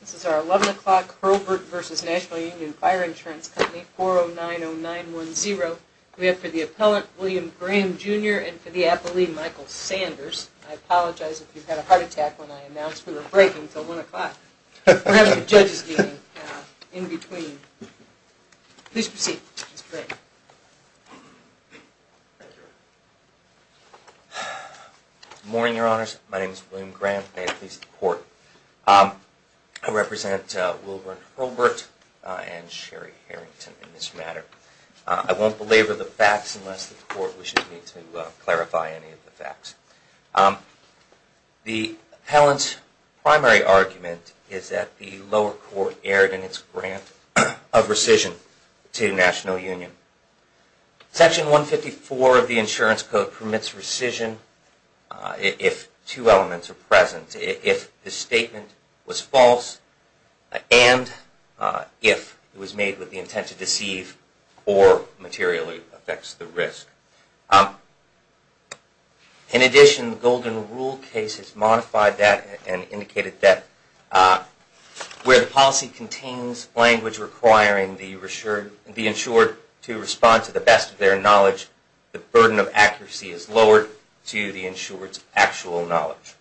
This is our 11 o'clock Hurlbert v. National Union Fire Insurance Company, 4090910. We have for the appellant, William Graham Jr. and for the appellee, Michael Sanders. I apologize if you had a heart attack when I announced we were breaking until 1 o'clock. We're having a judge's meeting in between. Please proceed, Mr. Gray. Good morning, Your Honors. My name is William Graham. May it please the Court. I represent Wilbur and Hurlbert and Sherry Harrington in this matter. I won't belabor the facts unless the Court wishes me to clarify any of the facts. The appellant's primary argument is that the lower court erred in its grant of rescission to the National Union. Section 154 of the Insurance Code permits rescission if two elements are present, if the statement was false and if it was made with the intent to deceive or materially affects the risk. In addition, the Golden Rule case has modified that and indicated that where the policy contains language requiring the insured to respond to the best of their knowledge, the burden of accuracy is lowered to the insured's actual knowledge.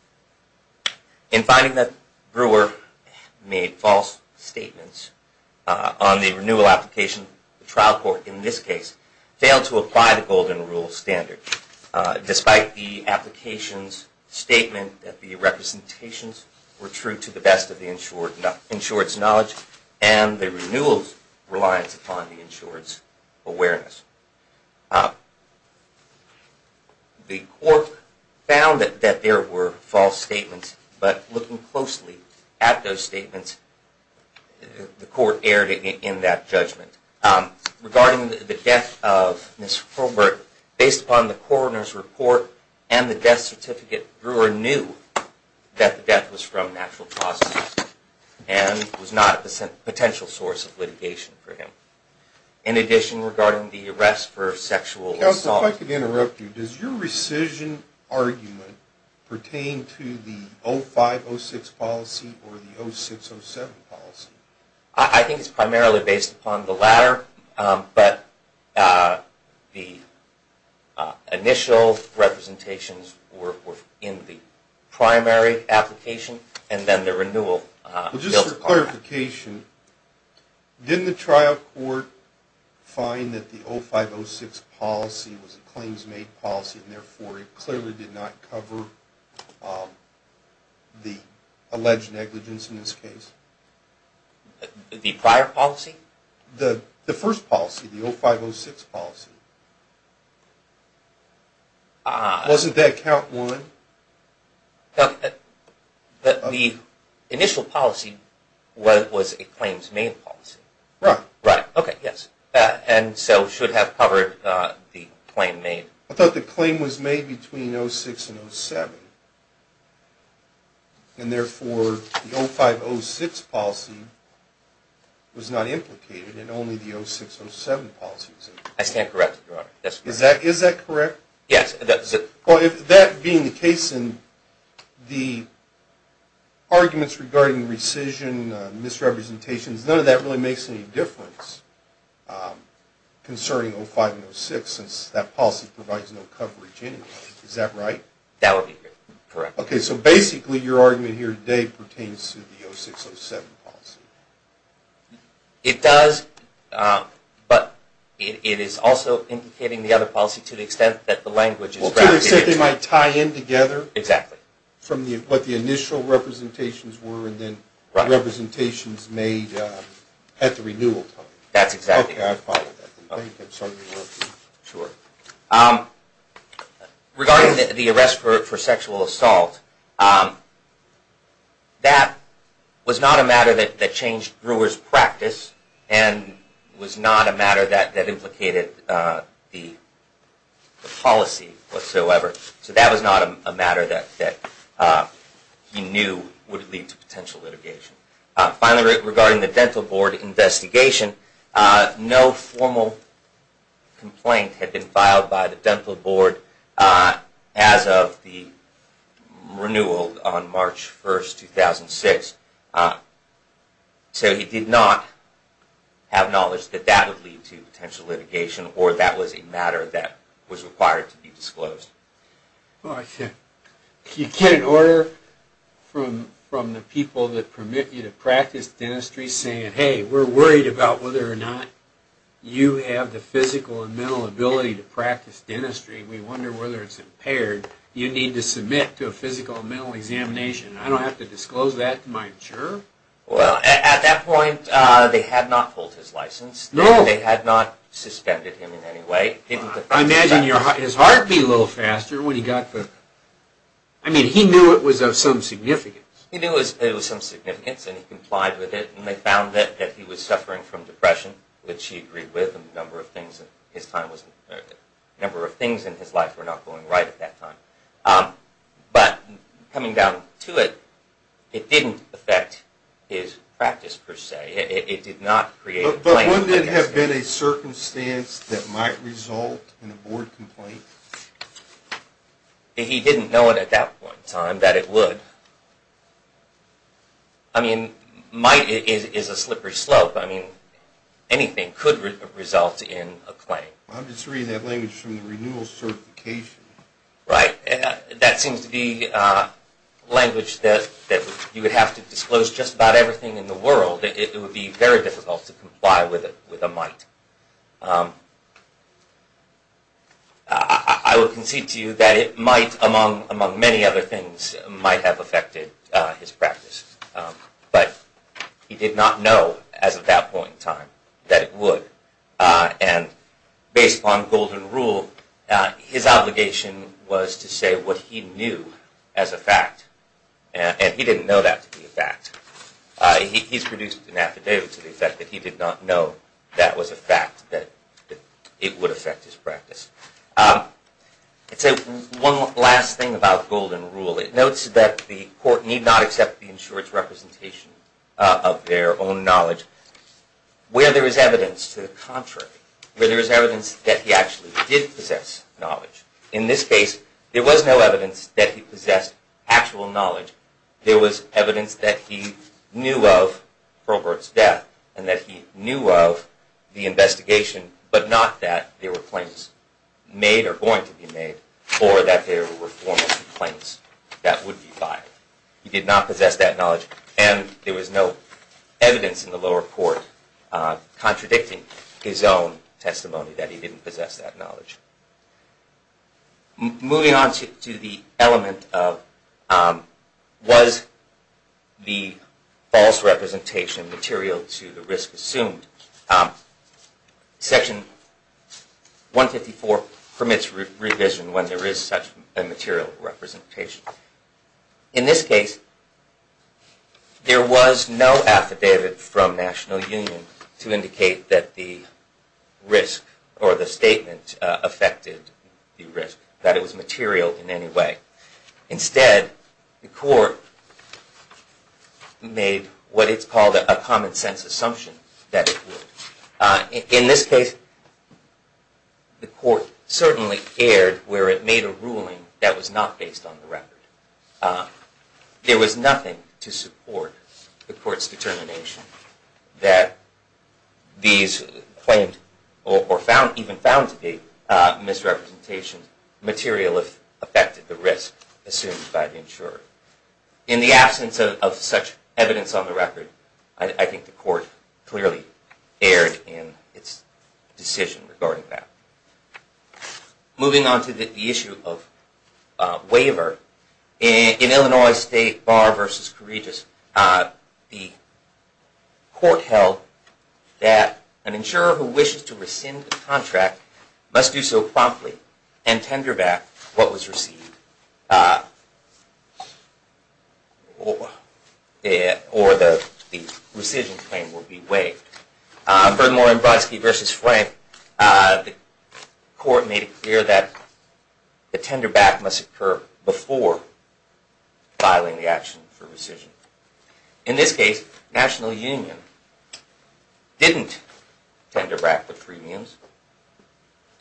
In finding that Brewer made false statements on the renewal application, the trial court in this case failed to apply the Golden Rule standard, despite the application's statement that the representations were true to the best of the insured's knowledge and the renewal's reliance upon the insured's awareness. The Court found that there were false statements, but looking closely at those statements, the Court erred in that judgment. Regarding the death of Mr. Probert, based upon the coroner's report and the death certificate, Brewer knew that the death was from natural causes and was not a potential source of litigation for him. In addition, regarding the arrest for sexual assault… Counsel, if I could interrupt you, does your rescission argument pertain to the 0506 policy or the 0607 policy? I think it's primarily based upon the latter, but the initial representations were in the primary application and then the renewal… Just for clarification, didn't the trial court find that the 0506 policy was a claims-made policy and therefore it clearly did not cover the alleged negligence in this case? The prior policy? The first policy, the 0506 policy. Ah. Wasn't that count one? The initial policy was a claims-made policy. Right. Right. Okay, yes. And so it should have covered the claim made. I thought the claim was made between 06 and 07, and therefore the 0506 policy was not implicated in only the 0607 policy. I stand corrected, Your Honor. Is that correct? Yes. Well, that being the case, and the arguments regarding rescission, misrepresentations, none of that really makes any difference concerning 05 and 06, since that policy provides no coverage anyway. Is that right? That would be correct. Okay, so basically your argument here today pertains to the 0607 policy. It does, but it is also indicating the other policy to the extent that the language is rather different. Well, to the extent they might tie in together. Exactly. From what the initial representations were and then representations made at the renewal time. That's exactly right. Okay, I follow that. Thank you. I'm sorry to interrupt you. Sure. Regarding the arrest for sexual assault, that was not a matter that changed Brewer's practice and was not a matter that implicated the policy whatsoever. So that was not a matter that he knew would lead to potential litigation. Finally, regarding the dental board investigation, no formal complaint had been filed by the dental board as of the renewal on March 1, 2006. So he did not have knowledge that that would lead to potential litigation or that was a matter that was required to be disclosed. You get an order from the people that permit you to practice dentistry saying, hey, we're worried about whether or not you have the physical and mental ability to practice dentistry. We wonder whether it's impaired. You need to submit to a physical and mental examination. I don't have to disclose that to my insurer? Well, at that point they had not pulled his license. No. They had not suspended him in any way. I imagine his heart beat a little faster when he got the... I mean, he knew it was of some significance. He knew it was of some significance and he complied with it and they found that he was suffering from depression, which he agreed with and a number of things in his life were not going right at that time. But coming down to it, it didn't affect his practice per se. It did not create a plan. Would it have been a circumstance that might result in a board complaint? He didn't know at that point in time that it would. I mean, might is a slippery slope. I mean, anything could result in a claim. I'm just reading that language from the renewal certification. Right. That seems to be language that you would have to disclose just about everything in the world. It would be very difficult to comply with a might. I would concede to you that it might, among many other things, might have affected his practice. But he did not know as of that point in time that it would. And based on golden rule, his obligation was to say what he knew as a fact. And he didn't know that to be a fact. He's produced an affidavit to the effect that he did not know that was a fact, that it would affect his practice. I'd say one last thing about golden rule. It notes that the court need not accept the insurer's representation of their own knowledge. Where there is evidence to the contrary, where there is evidence that he actually did possess knowledge. In this case, there was no evidence that he possessed actual knowledge. There was evidence that he knew of Robert's death and that he knew of the investigation, but not that there were claims made or going to be made or that there were formal complaints that would be filed. He did not possess that knowledge. And there was no evidence in the lower court contradicting his own testimony that he didn't possess that knowledge. Moving on to the element of was the false representation material to the risk assumed. Section 154 permits revision when there is such a material representation. In this case, there was no affidavit from National Union to indicate that the risk or the statement affected the risk, that it was material in any way. Instead, the court made what it's called a common sense assumption that it would. In this case, the court certainly erred where it made a ruling that was not based on the record. There was nothing to support the court's determination that these claimed or even found to be misrepresentation material if affected the risk assumed by the insurer. In the absence of such evidence on the record, I think the court clearly erred in its decision regarding that. Moving on to the issue of waiver, in Illinois State Bar v. Courageous, the court held that an insurer who wishes to rescind the contract must do so promptly and tender back what was received. Otherwise, the rescission claim will be waived. In Byrd-Moore v. Frank, the court made it clear that the tenderback must occur before filing the action for rescission. In this case, National Union didn't tender back the premiums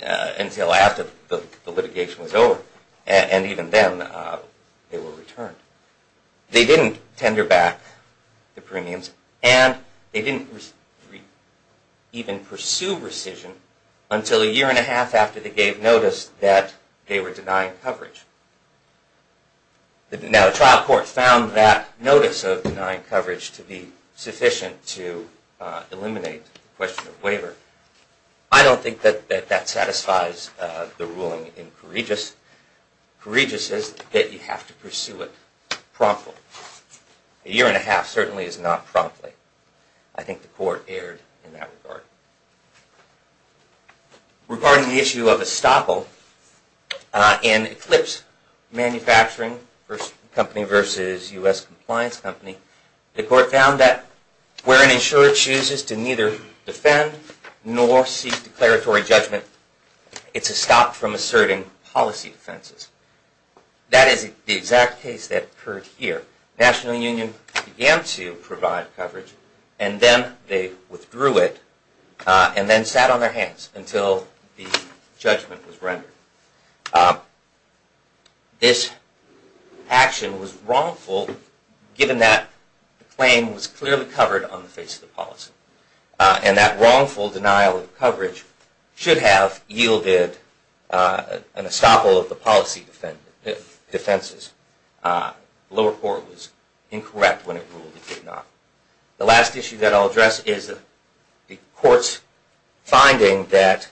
until after the litigation was over. And even then, they were returned. They didn't tender back the premiums and they didn't even pursue rescission until a year and a half after they gave notice that they were denying coverage. Now, the trial court found that notice of denying coverage to be sufficient to eliminate the question of waiver. I don't think that that satisfies the ruling in Courageous. Courageous says that you have to pursue it promptly. A year and a half certainly is not promptly. I think the court erred in that regard. Regarding the issue of estoppel in Eclipse Manufacturing v. U.S. Compliance Company, the court found that where an insurer chooses to neither defend nor seek declaratory judgment, it's a stop from asserting policy defenses. That is the exact case that occurred here. National Union began to provide coverage and then they withdrew it and then sat on their hands until the judgment was rendered. This action was wrongful given that the claim was clearly covered on the face of the policy. And that wrongful denial of coverage should have yielded an estoppel of the policy defenses. The lower court was incorrect when it ruled it did not. The last issue that I'll address is the court's finding that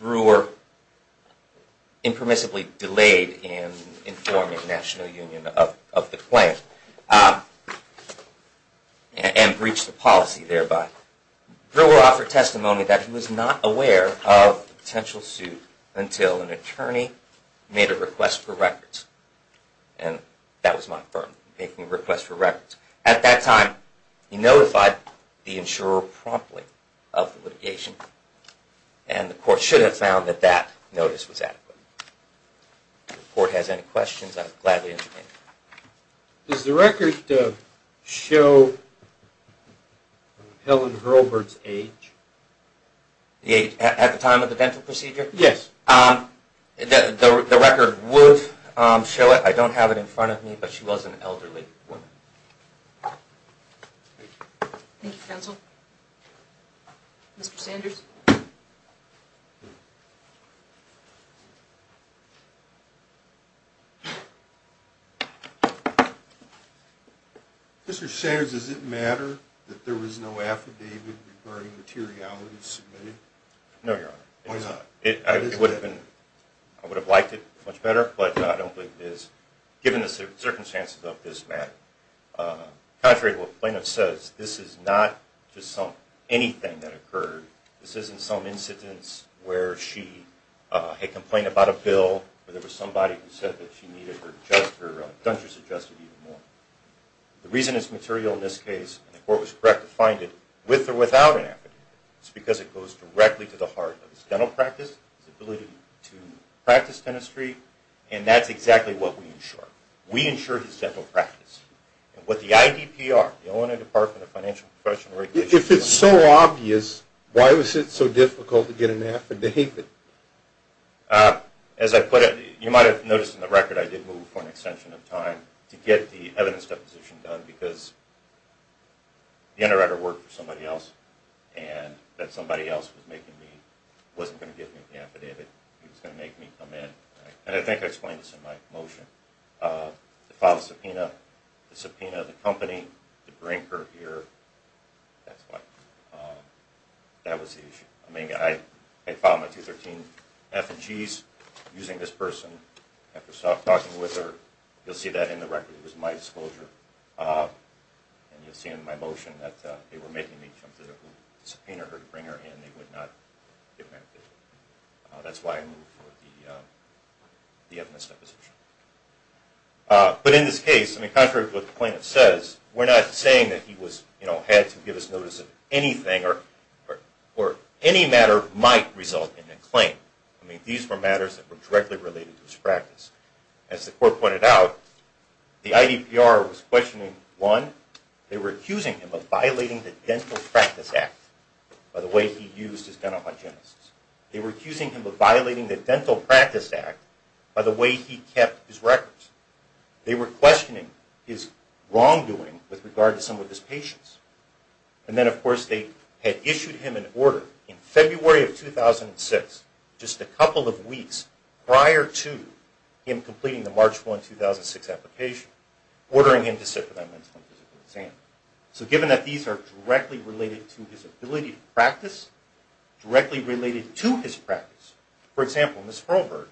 Brewer impermissibly delayed in informing National Union of the claim and breached the policy thereby. Brewer offered testimony that he was not aware of a potential suit until an attorney made a request for records. And that was my firm making a request for records. At that time, he notified the insurer promptly of the litigation and the court should have found that that notice was adequate. If the court has any questions, I'm glad to answer them. Does the record show Helen Hurlburt's age? The age at the time of the dental procedure? Yes. The record would show it. I don't have it in front of me, but she was an elderly woman. Thank you, counsel. Mr. Sanders? Mr. Sanders, does it matter that there was no affidavit regarding materiality submitted? No, Your Honor. Why not? I would have liked it much better, but I don't think it is, given the circumstances of this matter. Contrary to what Plano says, this is not just anything that occurred. This isn't some incidence where she had complained about a bill or there was somebody who said that she needed her dentures adjusted even more. The reason it's material in this case, and the court was correct to find it with or without an affidavit, is because it goes directly to the heart of his dental practice, his ability to practice dentistry, and that's exactly what we insure. We insure his dental practice. What the IDPR, the Illinois Department of Financial and Professional Regulation... If it's so obvious, why was it so difficult to get an affidavit? As I put it, you might have noticed in the record, I did move for an extension of time to get the evidence deposition done because the underwriter worked for somebody else, and that somebody else wasn't going to give me the affidavit. He was going to make me come in, and I think I explained this in my motion. The file of subpoena, the subpoena of the company to bring her here, that was the issue. I mean, I filed my 213-F and G's using this person. After talking with her, you'll see that in the record. It was my disclosure. And you'll see in my motion that they were making me come to the subpoena to bring her in. They would not give me an affidavit. That's why I moved for the evidence deposition. But in this case, I mean, contrary to what the plaintiff says, we're not saying that he had to give us notice of anything or any matter might result in a claim. I mean, these were matters that were directly related to his practice. As the court pointed out, the IDPR was questioning, one, they were accusing him of violating the Dental Practice Act by the way he used his dental hygienists. They were accusing him of violating the Dental Practice Act by the way he kept his records. They were questioning his wrongdoing with regard to some of his patients. And then, of course, they had issued him an order in February of 2006, just a couple of weeks prior to him completing the March 1, 2006 application, ordering him to sit for that mental and physical exam. So given that these are directly related to his ability to practice, directly related to his practice, for example, Ms. Hurlburg,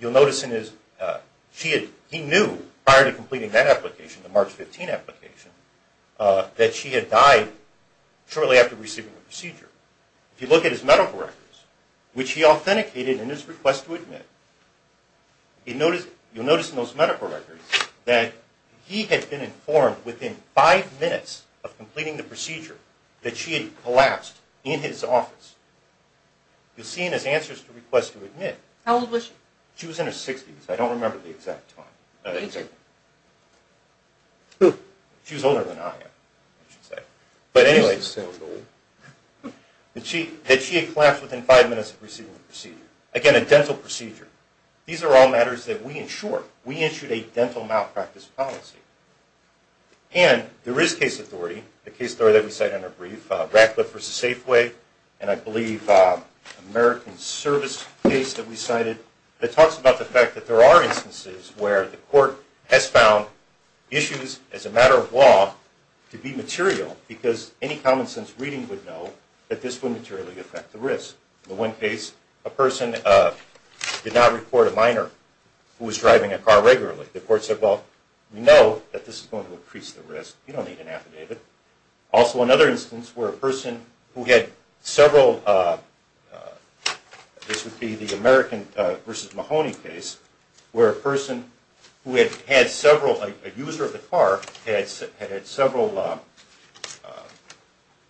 you'll notice in his, he knew prior to completing that application, the March 15 application, that she had died shortly after receiving the procedure. If you look at his medical records, which he authenticated in his request to admit, you'll notice in those medical records that he had been informed within five minutes of completing the procedure that she had collapsed in his office. You'll see in his answers to requests to admit. How old was she? She was in her 60s. I don't remember the exact time. Who? She was older than I am, I should say. But anyway, that she had collapsed within five minutes of receiving the procedure. Again, a dental procedure. These are all matters that we ensure. We issued a dental malpractice policy. And there is case authority, the case authority that we cite in our brief, Radcliffe v. Safeway, and I believe American Service case that we cited, that talks about the fact that there are instances where the court has found issues, as a matter of law, to be material, because any common sense reading would know that this would materially affect the risk. In the one case, a person did not report a minor who was driving a car regularly. The court said, well, we know that this is going to increase the risk. You don't need an affidavit. Also, another instance where a person who had several, this would be the American v. Mahoney case, where a person who had had several, a user of the car, had had several,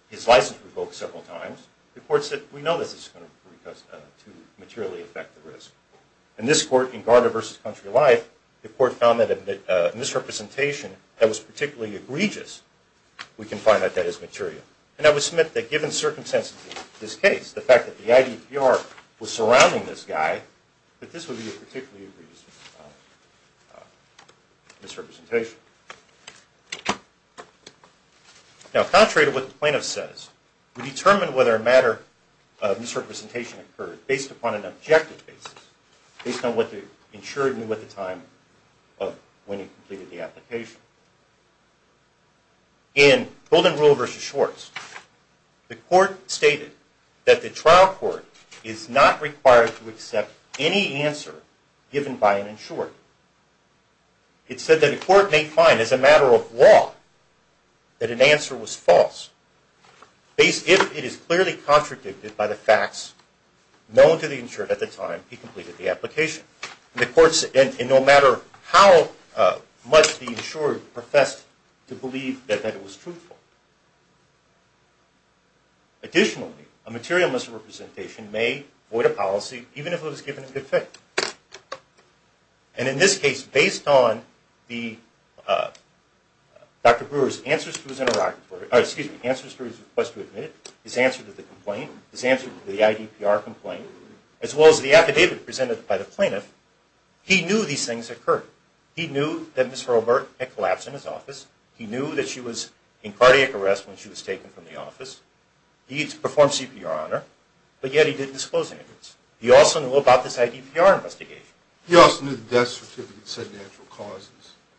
his license revoked several times. The court said, we know this is going to materially affect the risk. In this court, in Gardner v. Country Life, the court found that a misrepresentation that was particularly egregious, we can find that that is material. And I would submit that given the circumstances of this case, the fact that the IDPR was surrounding this guy, that this would be a particularly egregious misrepresentation. Now, contrary to what the plaintiff says, we determine whether a matter of misrepresentation occurred based upon an objective basis, based on what the insured knew at the time of when he completed the application. In Golden Rule v. Schwartz, the court stated that the trial court is not required to accept any answer given by an insured. It said that a court may find, as a matter of law, that an answer was false, if it is clearly contradicted by the facts known to the insured at the time he completed the application. And no matter how much the insured professed to believe that it was truthful. Additionally, a material misrepresentation may void a policy, even if it was given in good faith. And in this case, based on Dr. Brewer's answers to his request to admit, his answer to the complaint, his answer to the IDPR complaint, as well as the affidavit presented by the plaintiff, he knew these things occurred. He knew that Ms. Hurlburt had collapsed in his office. He knew that she was in cardiac arrest when she was taken from the office. He performed CPR on her, but yet he didn't disclose any of this. He also knew about this IDPR investigation. He also knew the death certificate said natural causes.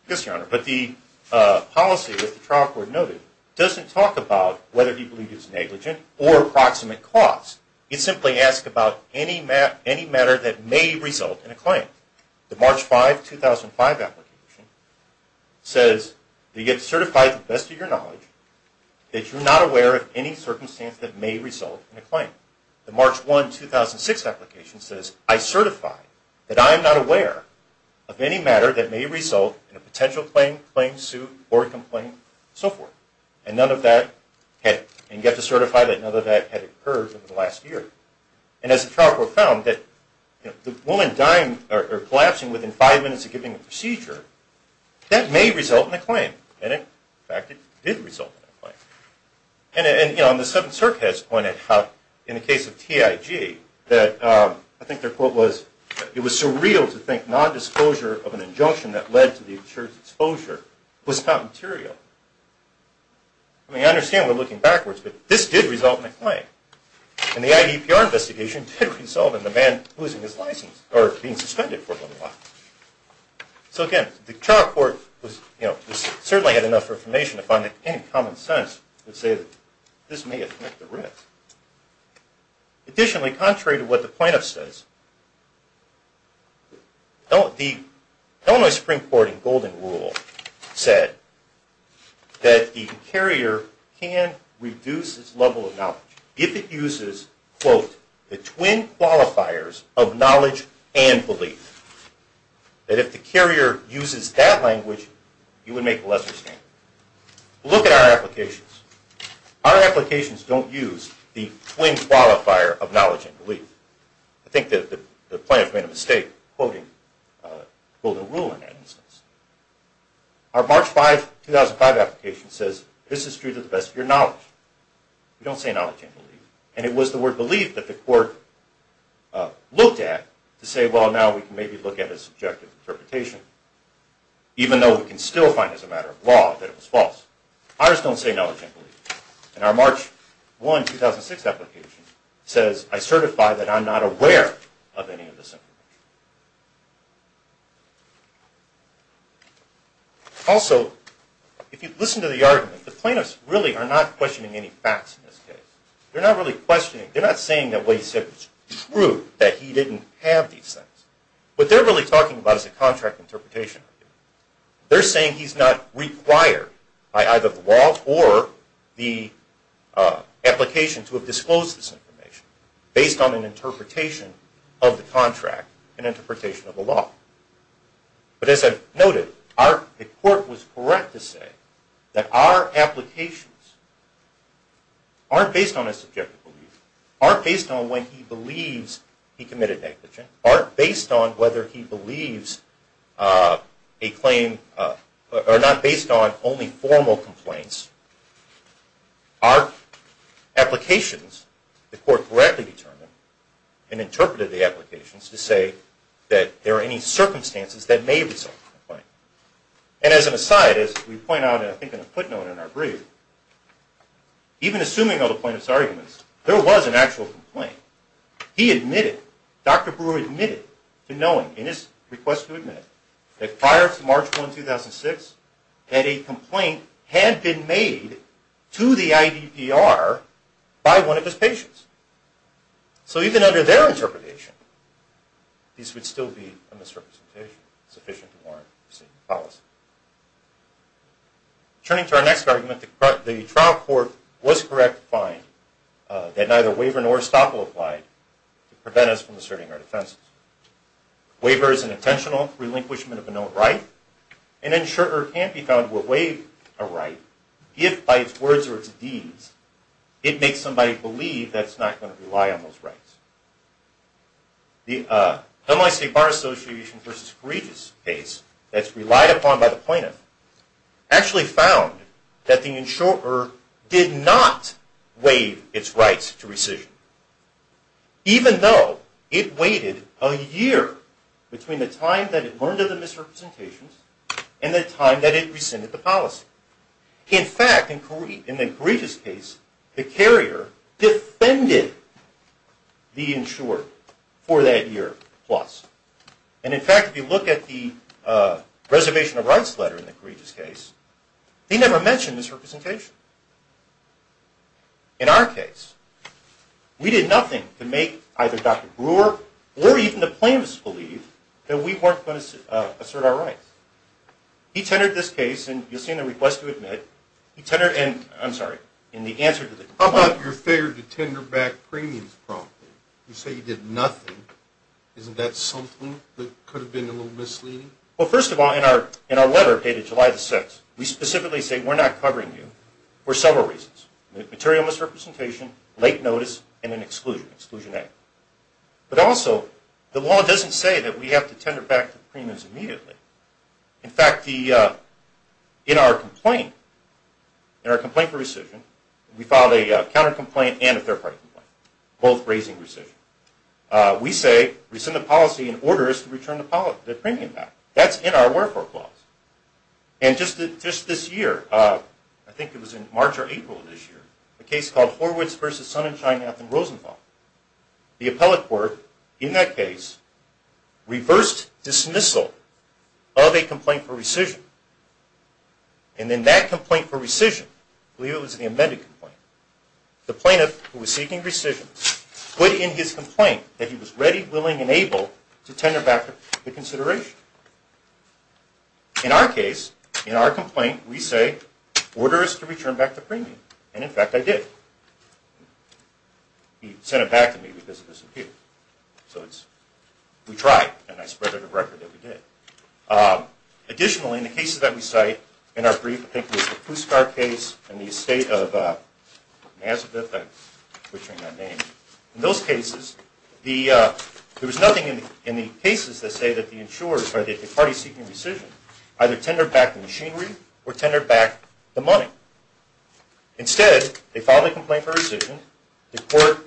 Yes, Your Honor. But the policy that the trial court noted doesn't talk about whether he believed it was negligent or approximate costs. It simply asks about any matter that may result in a claim. The March 5, 2005 application says that you get certified to the best of your knowledge that you're not aware of any circumstance that may result in a claim. The March 1, 2006 application says, I certify that I am not aware of any matter that may result in a potential claim, claim, suit, or complaint, and so forth. And none of that had, and you have to certify that none of that had occurred in the last year. And as the trial court found that the woman dying or collapsing within five minutes of giving the procedure, that may result in a claim. And in fact, it did result in a claim. And the 7th Circuit has pointed out in the case of TIG that, I think their quote was, it was surreal to think non-disclosure of an injunction that led to the insurer's exposure was not material. I mean, I understand we're looking backwards, but this did result in a claim. And the IDPR investigation did result in the man losing his license or being suspended for a little while. So again, the trial court certainly had enough information to find that any common sense would say that this may affect the risk. Additionally, contrary to what the plaintiff says, the Illinois Supreme Court in Golden Rule said that the carrier can reduce its level of knowledge if it uses, quote, the twin qualifiers of knowledge and belief. That if the carrier uses that language, you would make a lesser claim. Look at our applications. Our applications don't use the twin qualifier of knowledge and belief. I think that the plaintiff made a mistake quoting Golden Rule in that instance. Our March 5, 2005 application says, this is true to the best of your knowledge. We don't say knowledge and belief. And it was the word belief that the court looked at to say, well, now we can maybe look at a subjective interpretation, even though we can still find as a matter of law that it was false. Ours don't say knowledge and belief. And our March 1, 2006 application says, I certify that I'm not aware of any of this information. Also, if you listen to the argument, the plaintiffs really are not questioning any facts in this case. They're not really questioning. They're not saying that what he said was true, that he didn't have these things. What they're really talking about is a contract interpretation. They're saying he's not required by either the law or the application to have disclosed this information based on an interpretation of the contract, an interpretation of the law. But as I've noted, the court was correct to say that our applications aren't based on a subjective belief, aren't based on when he believes he committed negligence, aren't based on whether he believes a claim, or not based on only formal complaints. Our applications, the court correctly determined and interpreted the applications to say that there are any circumstances that may result in a complaint. And as an aside, as we point out, I think in a footnote in our brief, even assuming all the plaintiffs' arguments, there was an actual complaint. He admitted, Dr. Brewer admitted to knowing, in his request to admit, that prior to March 1, 2006, that a complaint had been made to the IDPR by one of his patients. So even under their interpretation, this would still be a misrepresentation sufficient to warrant a statement of policy. Turning to our next argument, the trial court was correct to find that neither waiver nor estoppel applied to prevent us from asserting our defenses. Waiver is an intentional relinquishment of a known right. An insurer can't be found to have waived a right if, by its words or its deeds, it makes somebody believe that it's not going to rely on those rights. The Delmont State Bar Association v. Correigious case that's relied upon by the plaintiff actually found that the insurer did not waive its rights to rescission, even though it waited a year between the time that it learned of the misrepresentations and the time that it rescinded the policy. In fact, in the Correigious case, the carrier defended the insurer for that year plus. And in fact, if you look at the reservation of rights letter in the Correigious case, they never mentioned misrepresentation. In our case, we did nothing to make either Dr. Brewer or even the plaintiffs believe that we weren't going to assert our rights. He tendered this case, and you'll see in the request to admit, he tendered and, I'm sorry, in the answer to the complaint. How about your failure to tender back premiums promptly? You say you did nothing. Isn't that something that could have been a little misleading? Well, first of all, in our letter dated July the 6th, we specifically say, and we're not covering you, for several reasons, material misrepresentation, late notice, and an exclusion, Exclusion A. But also, the law doesn't say that we have to tender back the premiums immediately. In fact, in our complaint, in our complaint for rescission, we filed a counter-complaint and a third-party complaint, both raising rescission. We say rescind the policy in order to return the premium back. That's in our wherefore clause. And just this year, I think it was in March or April of this year, a case called Horwitz v. Sonnenschein, Nathan Rosenthal. The appellate court, in that case, reversed dismissal of a complaint for rescission. And in that complaint for rescission, I believe it was the amended complaint, the plaintiff, who was seeking rescission, put in his complaint that he was ready, willing, and able to tender back the consideration. In our case, in our complaint, we say, order us to return back the premium. And in fact, I did. He sent it back to me because it disappeared. So we tried, and I spread it on record that we did. Additionally, in the cases that we cite, in our brief, I think it was the Puskar case, and the estate of Nazareth, I'm butchering that name. In those cases, there was nothing in the cases that say that the party seeking rescission either tendered back the machinery or tendered back the money. Instead, they filed a complaint for rescission, the court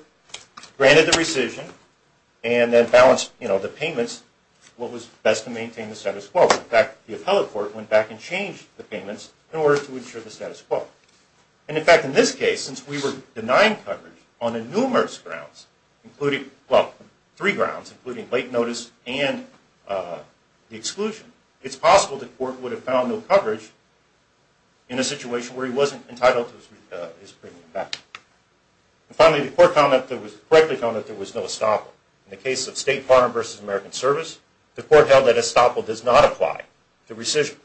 granted the rescission, and then balanced the payments, what was best to maintain the status quo. In fact, the appellate court went back and changed the payments in order to ensure the status quo. And in fact, in this case, since we were denying coverage on numerous grounds, including, well, three grounds, including late notice and the exclusion, it's possible the court would have found no coverage in a situation where he wasn't entitled to his premium back. And finally, the court correctly found that there was no estoppel. In the case of State Farm versus American Service, the court held that estoppel does not apply to rescission.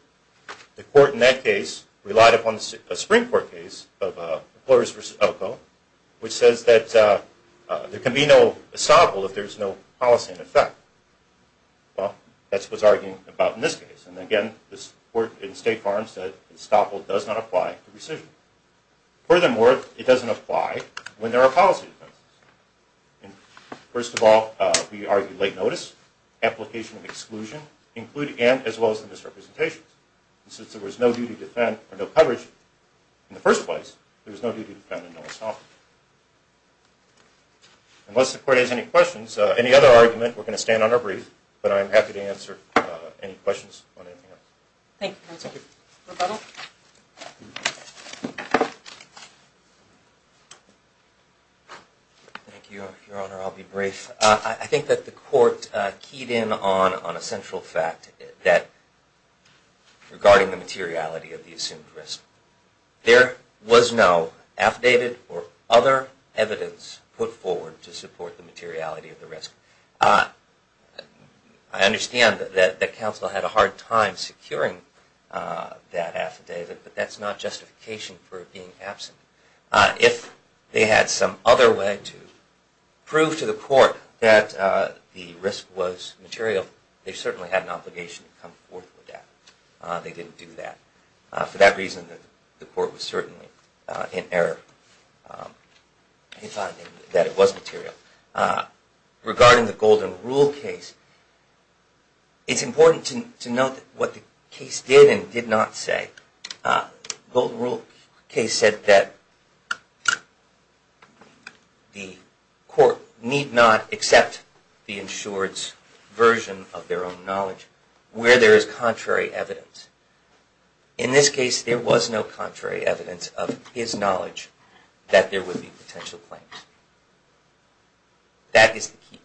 The court in that case relied upon a Supreme Court case of employers versus Elko, which says that there can be no estoppel if there's no policy in effect. Well, that's what it's arguing about in this case. And again, the court in State Farm said estoppel does not apply to rescission. Furthermore, it doesn't apply when there are policy defenses. First of all, we argue late notice, application of exclusion, and as well as the misrepresentations. Since there was no duty to defend or no coverage in the first place, there was no duty to defend and no estoppel. Unless the court has any questions, any other argument, we're going to stand on our brief, but I'm happy to answer any questions on anything else. Thank you, counsel. Rebuttal? Thank you, Your Honor. I'll be brief. I think that the court keyed in on a central fact regarding the materiality of the assumed risk. There was no affidavit or other evidence put forward to support the materiality of the risk. I understand that counsel had a hard time securing that affidavit, but that's not justification for it being absent. If they had some other way to prove to the court that the risk was material, they certainly had an obligation to come forth with that. They didn't do that. For that reason, the court was certainly in error in finding that it was material. Regarding the Golden Rule case, it's important to note what the case did and did not say. The Golden Rule case said that the court need not accept the insured's version of their own knowledge where there is contrary evidence. In this case, there was no contrary evidence of his knowledge that there would be potential claims. That is the key point.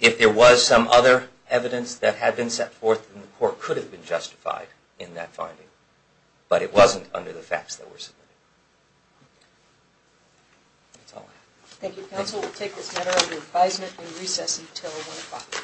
If there was some other evidence that had been set forth, then the court could have been justified in that finding, but it wasn't under the facts that were submitted. That's all I have. Thank you, counsel. We'll take this matter under advisement and recess until 1 o'clock.